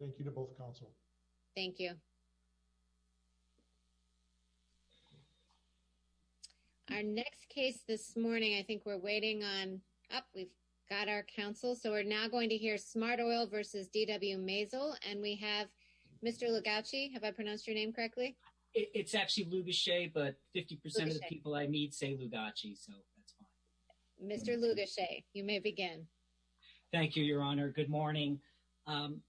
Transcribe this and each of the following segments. Thank you to both counsel. Thank you. Our next case this morning. I think we're waiting on up. We've got our counsel. So we're now going to hear Smart Oil versus DW Mazel and we have Mr. Lugace. Have I pronounced your name correctly? It's actually Lugace, but 50% of the people I need say Lugace. So that's fine. Mr. Lugace, you may begin. Thank you, Your Honor. Good morning.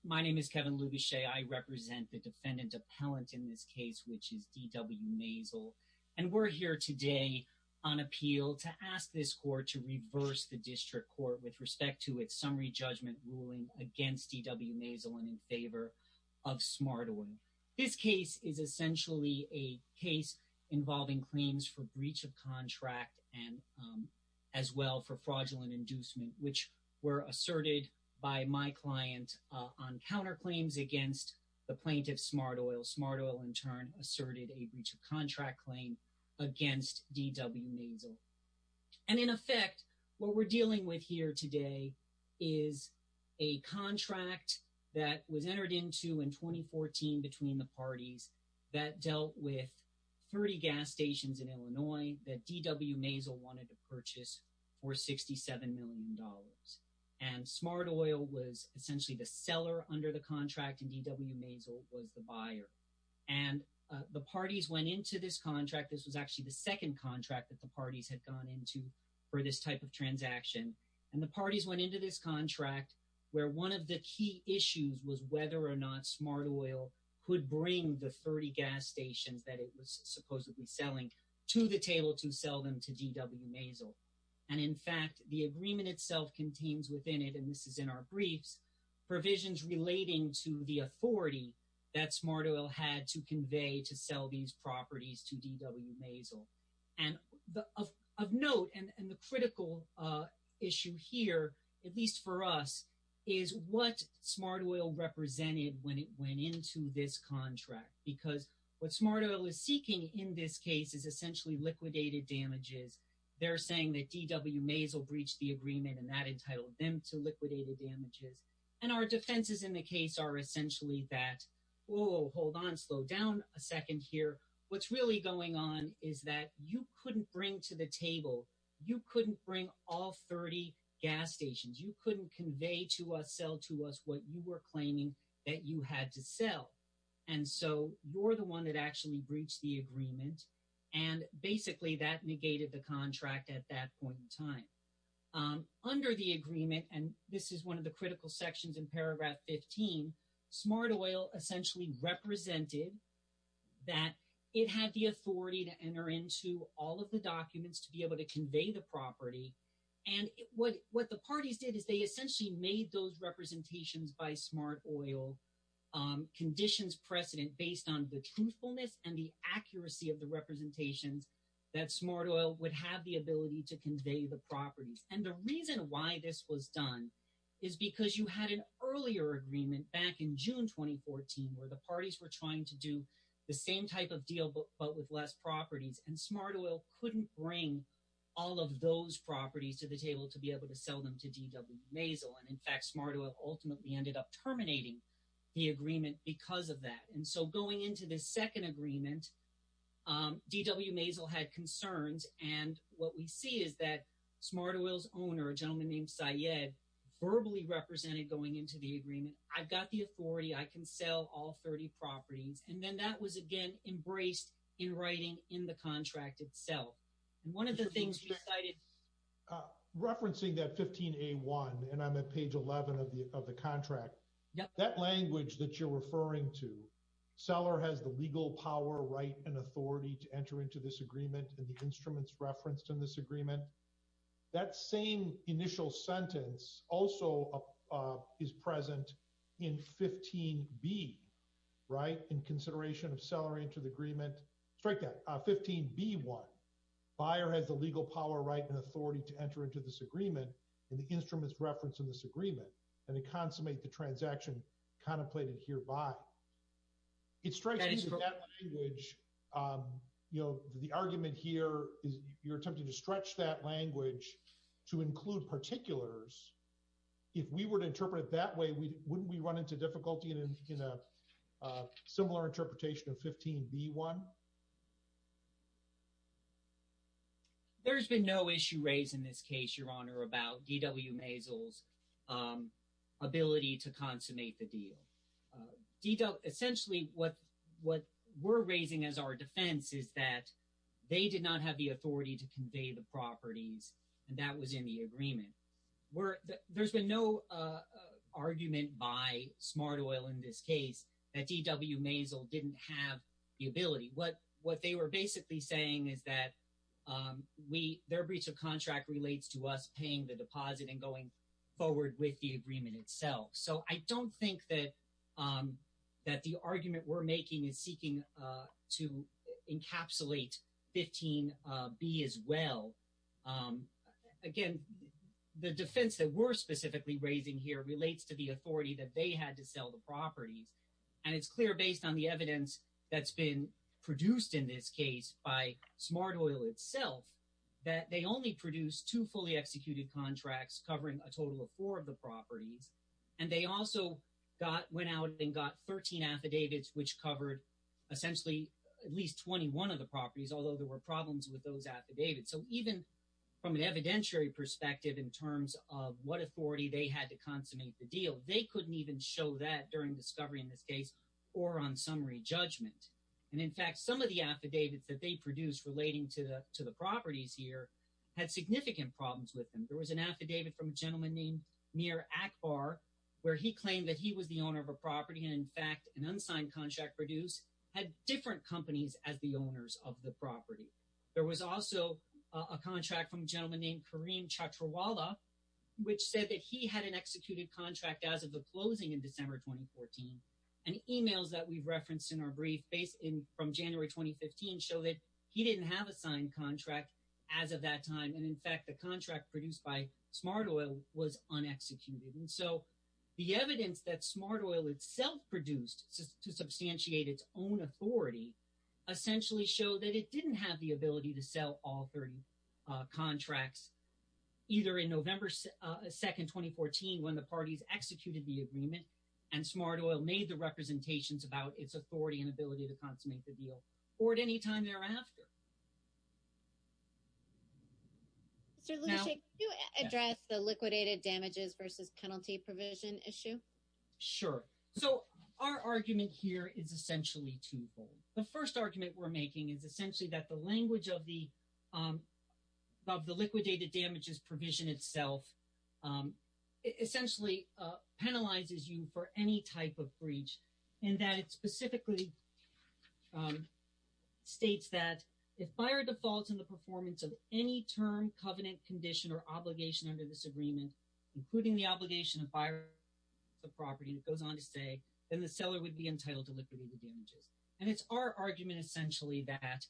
My name is Kevin Lugace. I represent the defendant appellant in this case, which is DW Mazel and we're here today on appeal to ask this court to reverse the district court with respect to its summary judgment ruling against DW Mazel and in favor of Smart Oil. This case is essentially a case involving claims for breach of contract and as well for fraudulent inducement, which were asserted by my client on counterclaims against the plaintiff Smart Oil. Smart Oil in turn asserted a breach of contract claim against DW Mazel. And in effect, what we're dealing with here today is a contract that was entered into in 2014 between the parties that dealt with 30 gas stations in Illinois that DW Mazel wanted to purchase for 67 million dollars and Smart Oil was essentially the seller under the contract and DW Mazel was the buyer. And the parties went into this contract. This was actually the second contract that the parties had gone into for this type of transaction and the parties went into this contract where one of the key issues was whether or not Smart Oil could bring the 30 gas stations that it was supposedly selling to the table to sell them to DW Mazel. And in fact, the agreement itself contains within it, and this is in our briefs, provisions relating to the authority that Smart Oil had to convey to sell these properties to DW Mazel. And of note and the critical issue here, at least for us, is what Smart Oil represented when it went into this contract because what Smart Oil is seeking in this case is essentially liquidated damages. They're saying that DW Mazel breached the agreement and that entitled them to liquidated damages. And our defenses in the case are essentially that, whoa, hold on slow down a second here. What's really going on is that you couldn't bring to the table. You couldn't bring all 30 gas stations. You couldn't convey to us, sell to us what you were claiming that you had to sell. And so you're the one that actually breached the agreement and basically that negated the contract at that point in time. Under the agreement, and this is one of the critical sections in paragraph 15, Smart Oil essentially represented that it had the authority to enter into all of the documents to be able to convey the property. And what the parties did is they essentially made those representations by Smart Oil conditions precedent based on the truthfulness and the Smart Oil would have the ability to convey the properties. And the reason why this was done is because you had an earlier agreement back in June 2014, where the parties were trying to do the same type of deal, but with less properties and Smart Oil couldn't bring all of those properties to the table to be able to sell them to DW Mazel. And in fact, Smart Oil ultimately ended up terminating the agreement because of that. And so going into the second agreement, DW Mazel had concerns and what we see is that Smart Oil's owner, a gentleman named Syed, verbally represented going into the agreement. I've got the authority. I can sell all 30 properties. And then that was again embraced in writing in the contract itself. And one of the things we cited. Referencing that 15A1 and I'm at page 11 of the of the contract, that language that you're referring to, seller has the legal power right and authority to enter into this agreement and the instruments referenced in this agreement. That same initial sentence also is present in 15B, right? In consideration of seller into the agreement. Strike that. 15B1. Buyer has the legal power right and authority to enter into this agreement and the instruments referenced in this agreement and consummate the transaction contemplated hereby. It strikes me that language, you know, the argument here is you're attempting to stretch that language to include particulars. If we were to interpret it that way, wouldn't we run into difficulty in a similar interpretation of 15B1? There's been no issue raised in this case, Your Honor, about DW Mazel's ability to consummate the deal. Essentially what we're raising as our defense is that they did not have the authority to convey the properties and that was in the agreement. There's been no argument by Smart Oil in this case that DW Mazel didn't have the ability. What they were basically saying is that their breach of contract relates to us paying the deposit and going forward with the agreement itself. So I don't think that the argument we're making is seeking to encapsulate 15B as well. Again, the defense that we're specifically raising here relates to the authority that they had to sell the properties and it's clear based on the evidence that's been produced in this case by Smart Oil itself that they only produced two fully executed contracts covering a total of four of the properties and they also went out and got 13 affidavits which covered essentially at least 21 of the properties, although there were problems with those affidavits. So even from an evidentiary perspective in terms of what authority they had to consummate the deal, they couldn't even show that during discovery in this case or on summary judgment. And in fact, some of the affidavits that they produced relating to the properties here had significant problems with them. There was an affidavit from a gentleman named Mir Akbar where he claimed that he was the owner of a property and in fact an unsigned contract produced had different companies as the owners of the property. There was also a contract from a gentleman named Kareem Chaturwala which said that he had an executed contract as of the closing in December 2014 and emails that we've referenced in our brief based in from January 2015 show that he didn't have a signed contract as of that time. And in fact, the contract produced by Smart Oil was unexecuted. And so the evidence that Smart Oil itself produced to substantiate its own authority essentially show that it didn't have the ability to sell all 30 contracts either in November 2nd, 2014 when the parties executed the agreement and Smart Oil made the representations about its authority and ability to consummate the deal or at any time thereafter. Mr. Lucia, can you address the liquidated damages versus penalty provision issue? Sure. So our argument here is essentially twofold. The first argument we're making is essentially that the language of the liquidated damages provision itself essentially penalizes you for any type of breach and that it specifically states that if there are defaults in the performance of any term, covenant, condition or obligation under this agreement, including the obligation of buying the property, it goes on to say that the seller would be entitled to liquidated damages. And it's our argument essentially that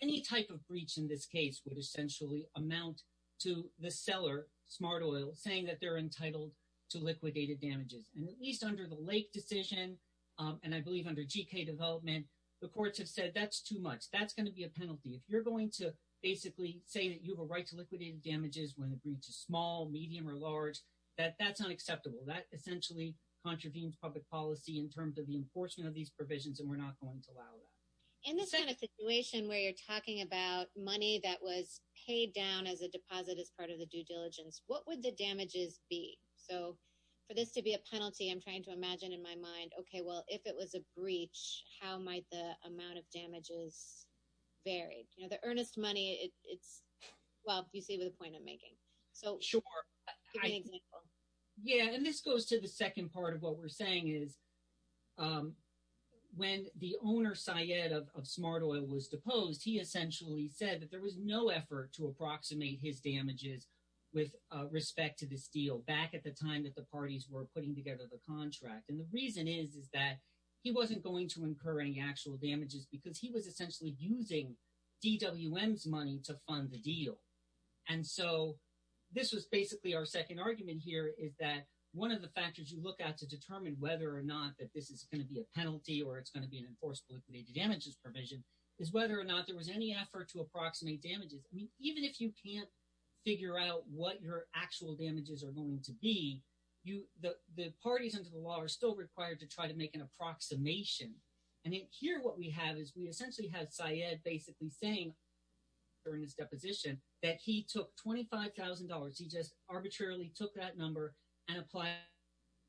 any type of breach in this case would essentially amount to the seller, Smart Oil, saying that they're entitled to liquidated damages and at least under the Lake decision and I believe under GK development, the courts have said that's too much. That's going to be a penalty. If you're going to basically say that you have a right to liquidated damages when the breach is small, medium or large, that's not acceptable. That essentially contravenes public policy in terms of the enforcement of these provisions and we're not going to allow that. In this kind of situation where you're talking about money that was paid down as a deposit as part of the due diligence, what would the damages be? So for this to be a penalty, I'm trying to imagine in my mind, okay, well, if it was a breach, how might the amount of damages vary? You know, the earnest money, it's, well, you see the point I'm making. So sure. Yeah, and this goes to the second part of what we're saying is when the owner Syed of Smart Oil was deposed, he essentially said that there was no effort to approximate his damages with respect to this deal back at the time that the parties were putting together the deal, that he wasn't going to incur any actual damages because he was essentially using DWM's money to fund the deal. And so this was basically our second argument here is that one of the factors you look at to determine whether or not that this is going to be a penalty or it's going to be an enforceable liquidated damages provision is whether or not there was any effort to approximate damages. I mean, even if you can't figure out what your actual damages are going to be, the parties under the law are still required to try to make an approximation. And then here what we have is we essentially have Syed basically saying during this deposition that he took $25,000. He just arbitrarily took that number and apply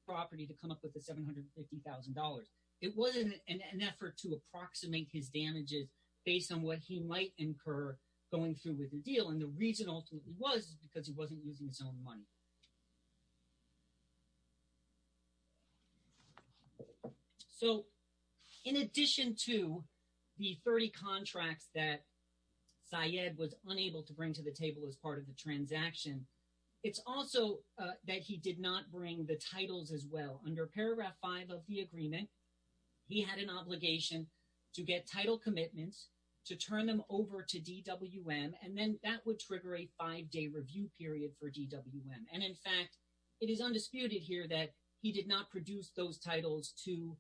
property to come up with the $750,000. It wasn't an effort to approximate his damages based on what he might incur going through with the deal. And the reason ultimately was because he wasn't using his own money. So in addition to the 30 contracts that Syed was unable to bring to the table as part of the transaction, it's also that he did not bring the titles as well. Under paragraph 5 of the agreement, he had an obligation to get title commitments to turn them over to DWM and then that would trigger a five-day review period for DWM. And in fact, it is undisputed here that he did not produce those to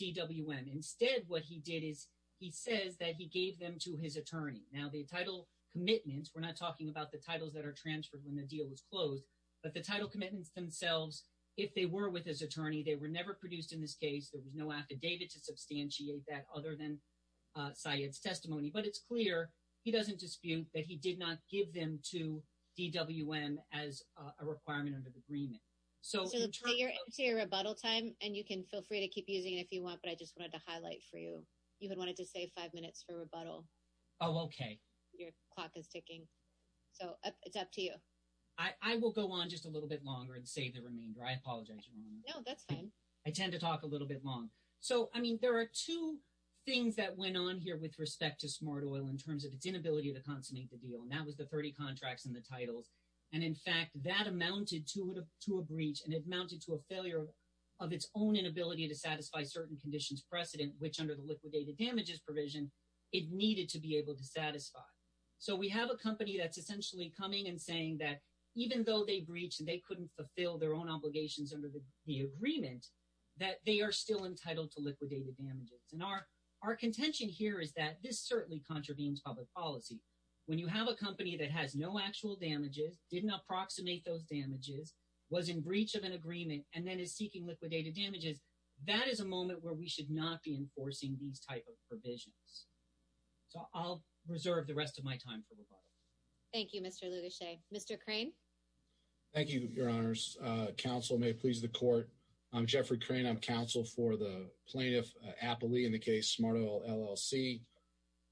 DWM. Instead, what he did is he says that he gave them to his attorney. Now the title commitments, we're not talking about the titles that are transferred when the deal was closed, but the title commitments themselves, if they were with his attorney, they were never produced in this case. There was no affidavit to substantiate that other than Syed's testimony, but it's clear, he doesn't dispute that he did not give them to DWM as a requirement under the agreement. So your rebuttal time, and you can feel free to keep using it if you want, but I just wanted to highlight for you, you had wanted to say five minutes for rebuttal. Oh, okay. Your clock is ticking. So it's up to you. I will go on just a little bit longer and save the remainder. I apologize. No, that's fine. I tend to talk a little bit long. So, I mean, there are two things that went on here with respect to Smart Oil in terms of its inability to consummate the deal, and that was the 30 contracts and the titles. And in fact, that amounted to a breach and it amounted to a failure of its own inability to satisfy certain conditions precedent, which under the liquidated damages provision, it needed to be able to satisfy. So we have a company that's essentially coming and saying that even though they breached and they couldn't fulfill their own obligations under the agreement, that they are still entitled to liquidated damages. And our contention here is that this certainly contravenes public policy. When you have a company that has no actual damages, didn't approximate those damages, was in breach of an agreement, and then is seeking liquidated damages, that is a moment where we should not be enforcing these type of provisions. So I'll reserve the rest of my time for rebuttal. Thank you, Mr. Lugashe. Mr. Crane. Thank you, Your Honors. Counsel may please the court. I'm Jeffrey Crane. I'm counsel for the plaintiff, Appali, in the case Smart Oil LLC.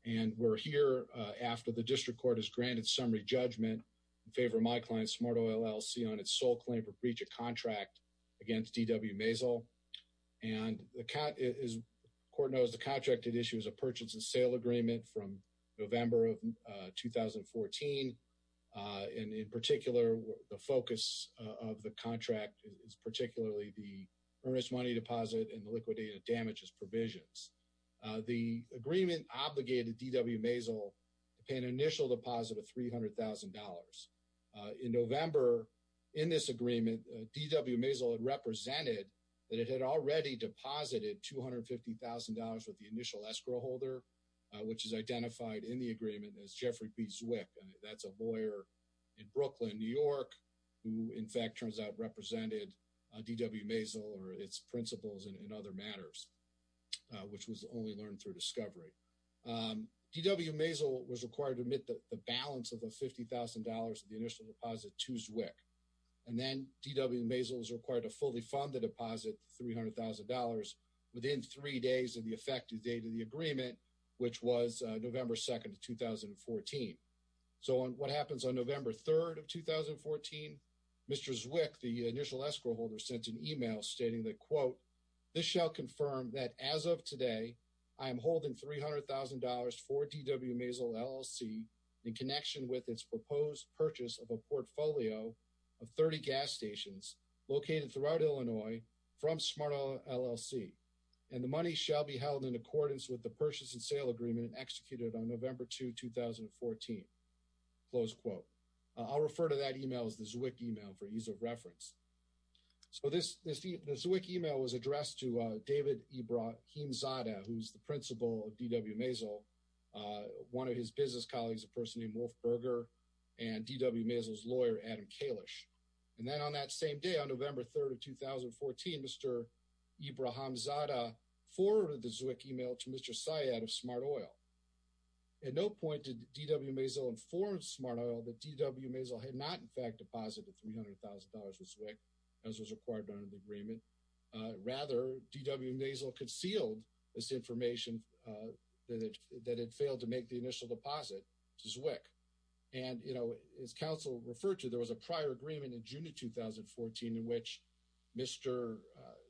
And we're here after the district court has granted summary judgment in favor of my client, Smart Oil LLC, on its sole claim for breach of contract against DW Maisel. And the court knows the contracted issue is a purchase and sale agreement from November of 2014. And in particular, the focus of the contract is particularly the earnest money deposit and liquidated damages provisions. The agreement obligated DW Maisel to pay an initial deposit of $300,000. In November, in this agreement, DW Maisel had represented that it had already deposited $250,000 with the initial escrow holder, which is identified in the agreement as Jeffrey B. Zwick. That's a lawyer in Brooklyn, New York, who in fact turns out represented DW Maisel or its principals in other matters. Which was only learned through discovery. DW Maisel was required to admit the balance of the $50,000 of the initial deposit to Zwick. And then DW Maisel was required to fully fund the deposit of $300,000 within three days of the effective date of the agreement, which was November 2nd of 2014. So on what happens on November 3rd of 2014, Mr. Zwick, the initial escrow holder, sent an email stating that, quote, this shall confirm that as of today, I am holding $300,000 for DW Maisel LLC in connection with its proposed purchase of a portfolio of 30 gas stations located throughout Illinois from Smart LLC. And the money shall be held in accordance with the purchase and sale agreement executed on November 2, 2014. Close quote. I'll refer to that email as the Zwick email for ease of reference. So this Zwick email was addressed to David Ibrahim Zada, who's the principal of DW Maisel, one of his business colleagues, a person named Wolf Berger, and DW Maisel's lawyer, Adam Kalish. And then on that same day, on November 3rd of 2014, Mr. Ibrahim Zada forwarded the Zwick email to Mr. Syed of Smart Oil. At no point did DW Maisel inform Smart Oil that DW Maisel had not in accordance with the $300,000 Zwick, as was required under the agreement. Rather, DW Maisel concealed this information that it failed to make the initial deposit to Zwick. And, you know, as counsel referred to, there was a prior agreement in June of 2014 in which Mr.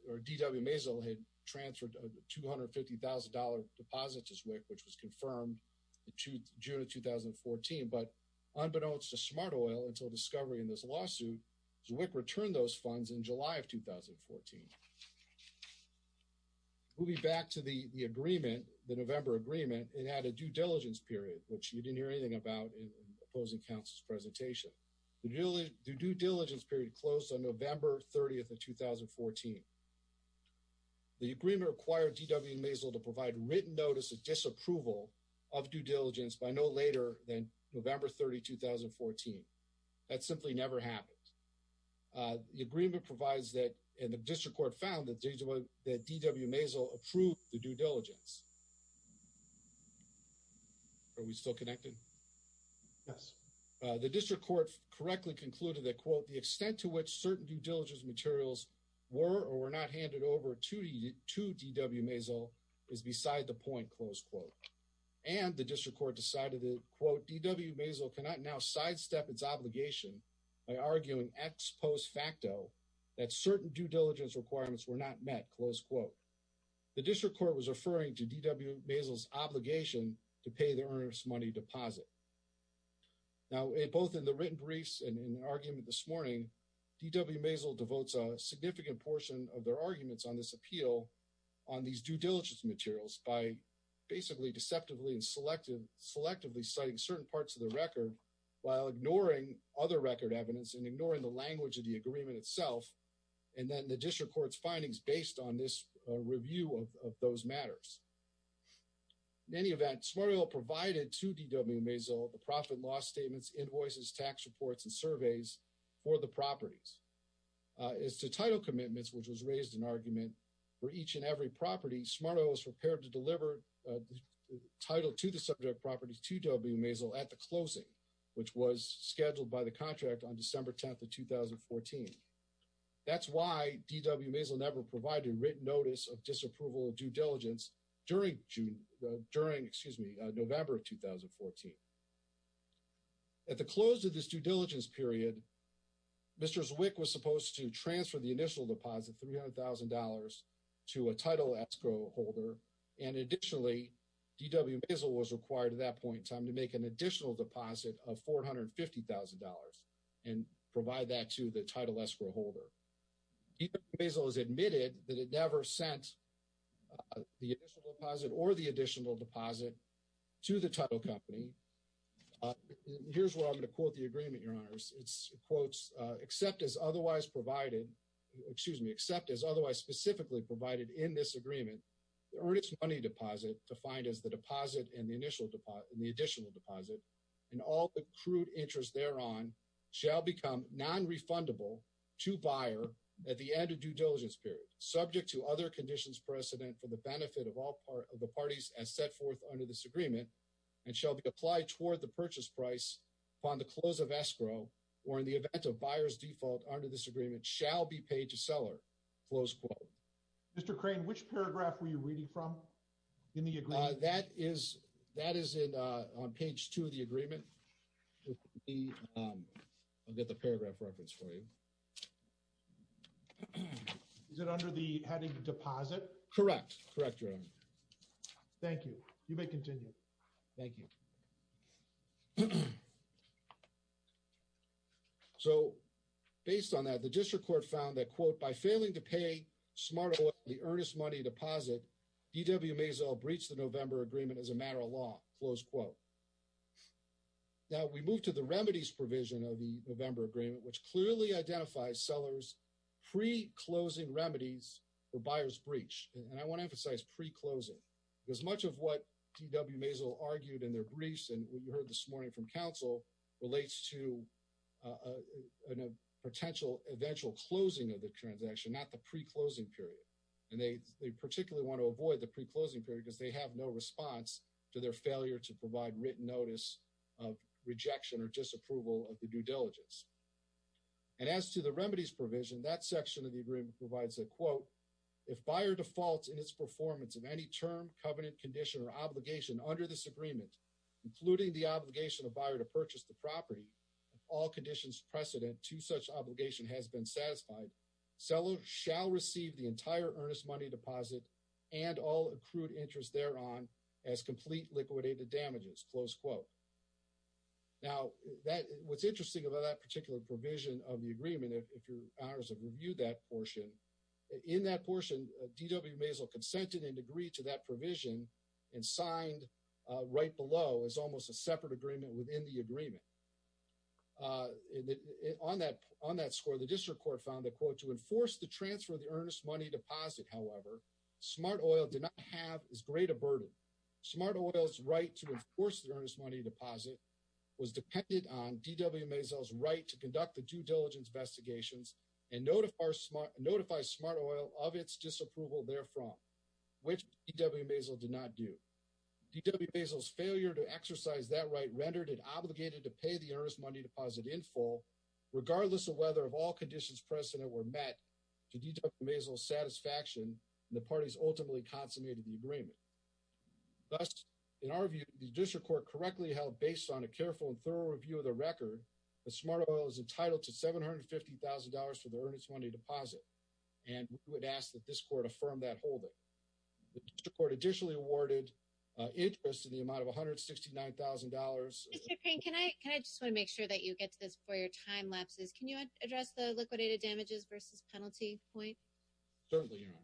or DW Maisel had transferred a $250,000 deposit to Zwick, which was confirmed in June of 2014. But unbeknownst to Smart Oil, until discovery in this lawsuit, Zwick returned those funds in July of 2014. Moving back to the agreement, the November agreement, it had a due diligence period, which you didn't hear anything about in opposing counsel's presentation. The due diligence period closed on November 30th of 2014. The agreement required DW Maisel to provide written notice of disapproval of due diligence by no later than November 30, 2014. That simply never happened. The agreement provides that, and the district court found that DW Maisel approved the due diligence. Are we still connected? Yes. The district court correctly concluded that, quote, the extent to which certain due diligence materials were or were not handed over to DW Maisel is beside the point, close quote. And the district court decided that, quote, DW Maisel cannot now sidestep its obligation by arguing ex post facto that certain due diligence requirements were not met, close quote. The district court was referring to DW Maisel's obligation to pay the earnest money deposit. Now, both in the written briefs and in the argument this morning, DW Maisel devotes a significant portion of their arguments on this appeal on these due diligence materials by basically deceptively and selectively citing certain parts of the record while ignoring other record evidence and ignoring the language of the agreement itself. And then the district court's findings based on this review of those matters. In any event, Smart Oil provided to DW Maisel the profit loss statements, invoices, tax reports, and surveys for the properties. As to title commitments, which was raised in argument for each and every property, Smart Oil was prepared to deliver title to the subject properties to DW Maisel at the closing, which was scheduled by the contract on December 10th of 2014. That's why DW Maisel never provided written notice of disapproval of due diligence during June, during, excuse me, November of 2014. At the close of this due diligence period, Mr. Zwick was supposed to transfer the initial deposit $300,000 to a title escrow holder. And additionally, DW Maisel was required at that point in time to make an additional deposit of $450,000 and provide that to the title escrow holder. DW Maisel has admitted that it never sent the initial deposit or the additional deposit to the title company. Here's where I'm going to quote the agreement, Your Honors. It quotes, except as otherwise provided, excuse me, except as otherwise specifically provided in this agreement, the earnest money deposit, defined as the deposit and the initial deposit and the additional deposit, and all the crude interest thereon, shall become non-refundable to buyer at the end of due diligence period, subject to other conditions precedent for the benefit of all part of the parties as set forth under this agreement, and shall be or in the event of buyer's default under this agreement, shall be paid to seller, close quote. Mr. Crane, which paragraph were you reading from in the agreement? That is on page two of the agreement. I'll get the paragraph reference for you. Is it under the heading deposit? Correct. Correct, Your Honor. Thank you. You may continue. Thank you. So, based on that, the district court found that, quote, by failing to pay smart oil, the earnest money deposit, DW Maisel breached the November agreement as a matter of law, close quote. Now, we move to the remedies provision of the November agreement, which clearly identifies sellers pre-closing remedies for buyer's breach, and I want to emphasize pre-closing, because much of what DW Maisel argued in their briefs and what you heard this morning from counsel relates to a potential eventual closing of the transaction, not the pre-closing period. And they particularly want to avoid the pre-closing period because they have no response to their failure to provide written notice of rejection or disapproval of the due diligence. And as to the remedies provision, that section of the agreement provides a quote, if buyer defaults in its performance of any term, covenant, condition, or obligation under this agreement, including the obligation of buyer to purchase the property, if all conditions precedent to such obligation has been satisfied, seller shall receive the entire earnest money deposit and all accrued interest thereon as complete liquidated damages, close quote. Now, what's interesting about that particular provision of the agreement, if your honors have reviewed that portion, in that portion, DW Maisel consented and agreed to that provision and signed right below as almost a separate agreement within the agreement. On that score, the district court found that, quote, to enforce the transfer of the earnest money deposit, however, Smart Oil did not have as great a burden. Smart Oil's right to enforce the earnest money deposit was dependent on DW Maisel's right to conduct the due diligence investigations and notify Smart Oil of its disapproval therefrom. Which DW Maisel did not do. DW Maisel's failure to exercise that right rendered it obligated to pay the earnest money deposit in full, regardless of whether of all conditions precedent were met to DW Maisel's satisfaction, and the parties ultimately consummated the agreement. Thus, in our view, the district court correctly held, based on a careful and thorough review of the record, that Smart Oil is entitled to $750,000 for the earnest money deposit. And we would ask that this court affirm that holding. The court additionally awarded interest in the amount of $169,000. Can I just want to make sure that you get to this before your time lapses? Can you address the liquidated damages versus penalty point? Certainly, Your Honor.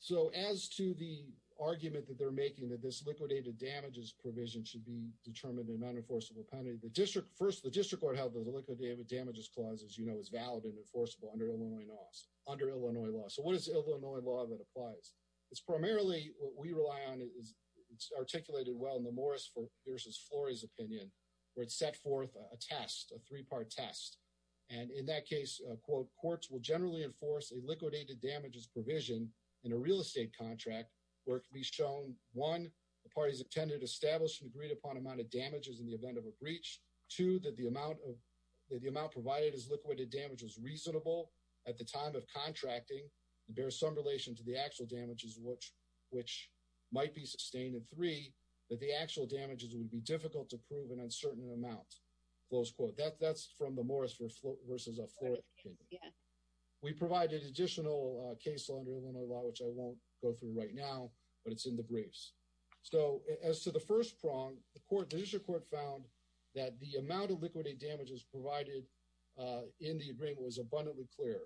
So as to the argument that they're making that this liquidated damages provision should be determined in an unenforceable penalty, the district First, the district court held that the liquidated damages clause, as you know, is valid and enforceable under Illinois laws. Under Illinois law. So what is Illinois law that applies? It's primarily what we rely on. It's articulated well in the Morris versus Flory's opinion, where it's set forth a test, a three-part test. And in that case, quote, courts will generally enforce a liquidated damages provision in a real estate contract where it can be shown, one, the parties intended to establish an agreed-upon amount of damages in the event of a case, two, that the amount of the amount provided as liquidated damage was reasonable at the time of contracting and bear some relation to the actual damages, which might be sustained, and three, that the actual damages would be difficult to prove an uncertain amount. Close quote. That's from the Morris versus Flory opinion. Yeah. We provided additional case law under Illinois law, which I won't go through right now, but it's in the briefs. So as to the first prong, the court, the district court found that the amount of liquidated damages provided in the agreement was abundantly clear.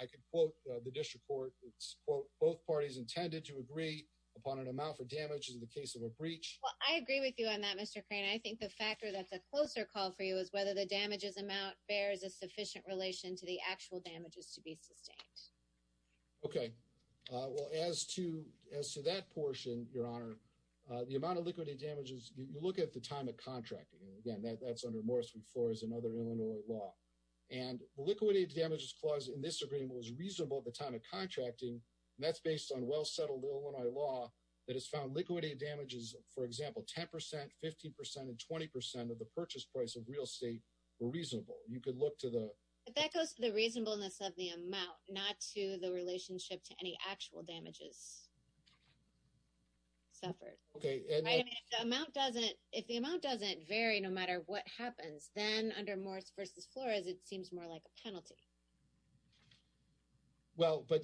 I could quote the district court. It's quote, both parties intended to agree upon an amount for damages in the case of a breach. Well, I agree with you on that, Mr. Crane. I think the factor that's a closer call for you is whether the damages amount bears a sufficient relation to the actual damages to be sustained. Okay. Well, as to, as to that portion, your honor, the amount of liquidated damages, you look at the time of contracting, and again, that's under Morris versus Flory's and other Illinois law, and liquidated damages clause in this agreement was reasonable at the time of contracting. That's based on well-settled Illinois law that has found liquidated damages, for example, 10%, 15% and 20% of the purchase price of real estate were reasonable. You could look to the... That goes to the reasonableness of the amount, not to the relationship to any actual damages. Suffered. Okay. And the amount doesn't, if the amount doesn't vary, no matter what happens, then under Morris versus Flory's, it seems more like a penalty. Well, but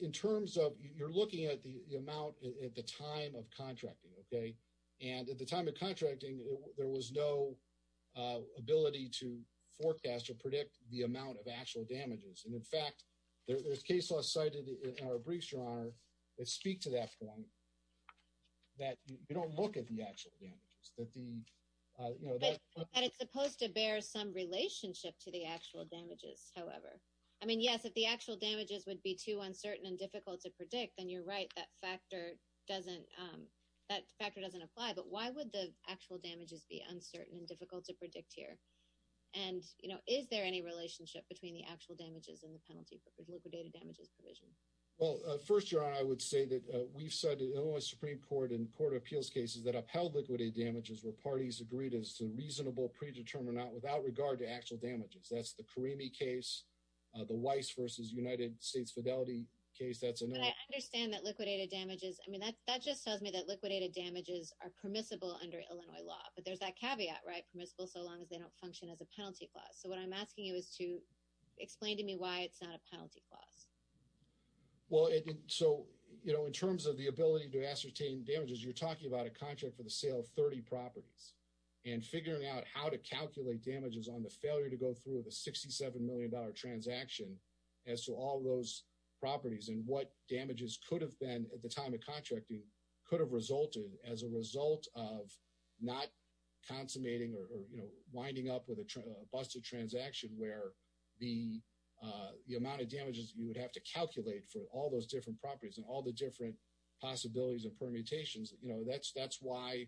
in terms of, you're looking at the amount at the time of contracting, okay? And at the time of contracting, there was no ability to forecast or predict the amount of actual damages. And in fact, there's case laws cited in our briefs, Your Honor, that speak to that point, that you don't look at the actual damages, that the, you know... And it's supposed to bear some relationship to the actual damages, however. I mean, yes, if the actual damages would be too uncertain and difficult to predict, then you're right. That factor doesn't, that factor doesn't apply. But why would the actual damages be uncertain and difficult to predict here? And, you know, is there any relationship between the actual damages and the penalty for liquidated damages provision? Well, first, Your Honor, I would say that we've said in the Illinois Supreme Court and court of appeals cases that upheld liquidated damages were parties agreed as to reasonable predetermined or not without regard to actual damages. That's the Karimi case, the Weiss versus United States Fidelity case. That's another... But I understand that liquidated damages, I mean, that just tells me that liquidated damages are permissible under Illinois law. But there's that caveat, right? They're permissible so long as they don't function as a penalty clause. So what I'm asking you is to explain to me why it's not a penalty clause. Well, so, you know, in terms of the ability to ascertain damages, you're talking about a contract for the sale of 30 properties and figuring out how to calculate damages on the failure to go through the 67 million dollar transaction as to all those properties and what damages could have been at the time of contracting could have resulted as a result of not consummating or, you know, winding up with a busted transaction where the amount of damages you would have to calculate for all those different properties and all the different possibilities of permutations, you know, that's why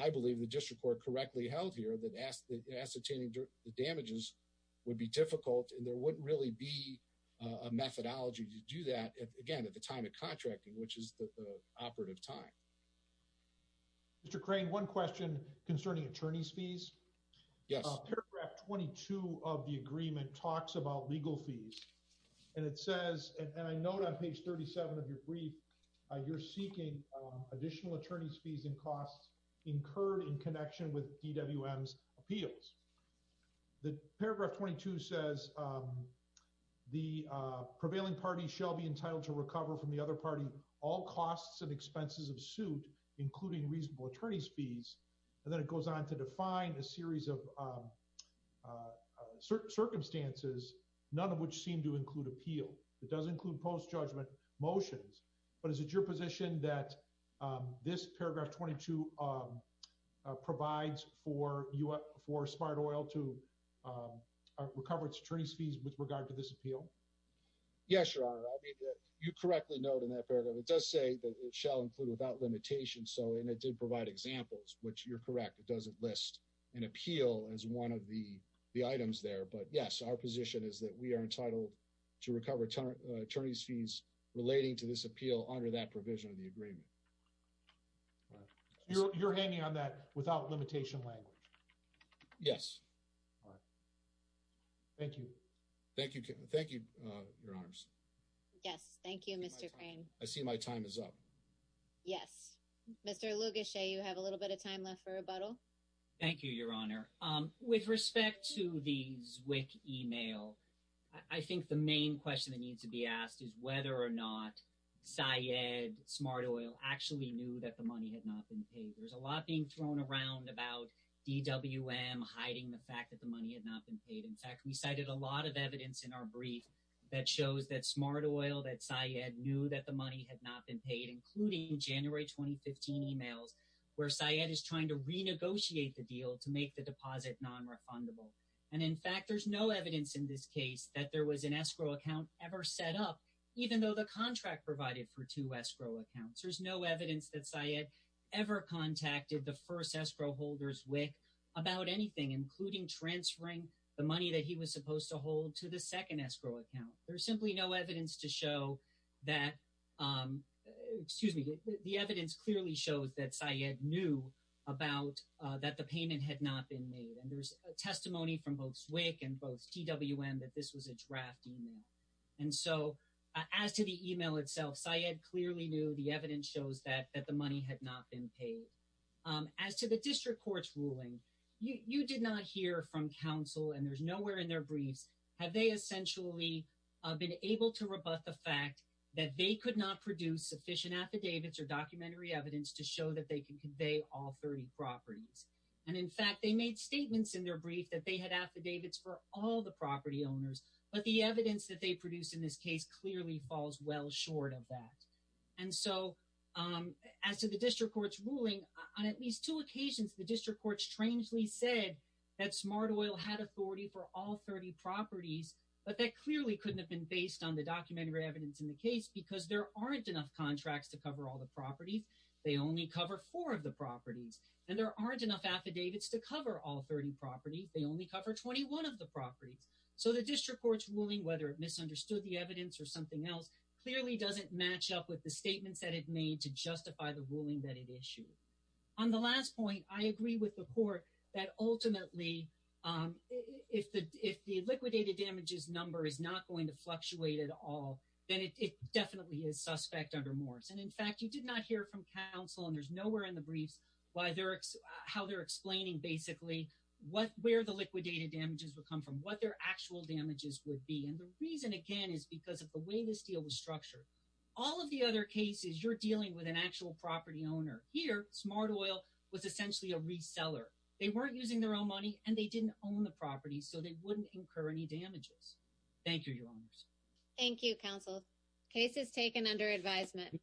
I believe the district court correctly held here that ascertaining the damages would be difficult and there wouldn't really be a methodology to do that again at the time of contracting, which is the operative time. Mr. Crane, one question concerning attorney's fees. Yes, paragraph 22 of the agreement talks about legal fees and it says and I note on page 37 of your brief, you're seeking additional attorney's fees and costs incurred in connection with DWM's appeals. The paragraph 22 says the prevailing party shall be entitled to recover from the other party all costs and expenses of suit including reasonable attorney's fees and then it goes on to define a series of certain circumstances, none of which seem to include appeal. It does include post judgment motions, but is it your position that this paragraph 22 provides for you up for smart oil to recover its attorney's fees with regard to this appeal? Yes, your honor. I mean you correctly note in that paragraph. It does say that it shall include without limitation. So and it did provide examples which you're correct. It doesn't list an appeal as one of the items there. But yes, our position is that we are entitled to recover attorney's fees relating to this appeal under that provision of the agreement. You're hanging on that without limitation language. Yes. All right. Thank you. Thank you. Thank you, your honors. Yes. Thank you. Mr. Crane. I see my time is up. Yes. Mr. Lugas say you have a little bit of time left for a bottle. Thank you, your honor with respect to the Zwick email. I think the main question that needs to be asked is whether or not Syed smart oil actually knew that the money had not been paid. There's a lot being thrown around about DWM hiding the fact that the money had not been paid. In fact, we cited a lot of evidence in our brief that shows that smart oil that Syed knew that the money had not been paid including January 2015 emails where Syed is trying to renegotiate the deal to make the deposit non-refundable. And in fact, there's no evidence in this case that there was an escrow account ever set up even though the contract provided for two escrow accounts. There's no evidence that Syed ever contacted the first escrow holders wick about anything including transferring the money that he was supposed to hold to the second escrow account. There's simply no evidence to show that excuse me. The evidence clearly shows that Syed knew about that the payment had not been made and there's a testimony from both Zwick and both DWM that this was a draft email. And so as to the email itself Syed clearly knew the evidence shows that that the money had not been paid as to the district courts ruling you did not hear from counsel and there's nowhere in their briefs. Have they essentially been able to rebut the fact that they could not produce sufficient affidavits or documentary evidence to show that they can convey all 30 properties. And in fact, they made statements in their brief that they had affidavits for all the property owners, but the evidence that they produce in this case clearly falls well short of that. And so as to the district courts ruling on at least two occasions the district courts strangely said that Smart Oil had authority for all 30 properties, but that clearly couldn't have been based on the documentary evidence in the case because there aren't enough contracts to cover all the properties. They only cover four of the properties and there aren't enough affidavits to cover all 30 properties. They only cover 21 of the properties. So the district courts ruling whether it misunderstood the evidence or something else clearly doesn't match up with the statements that it made to justify the ruling that it issued on the last point. I agree with the court that ultimately if the liquidated damages number is not going to fluctuate at all, then it definitely is suspect under Morse. And in fact, you did not hear from counsel and there's nowhere in the briefs how they're explaining basically where the liquidated damages would come from, what their actual damages would be. And the reason again is because of the way this deal was structured. All of the other cases you're dealing with an actual property owner. Here smart oil was essentially a reseller. They weren't using their own money and they didn't own the property so they wouldn't incur any damages. Thank you, your honors. Thank you counsel cases taken under advisement.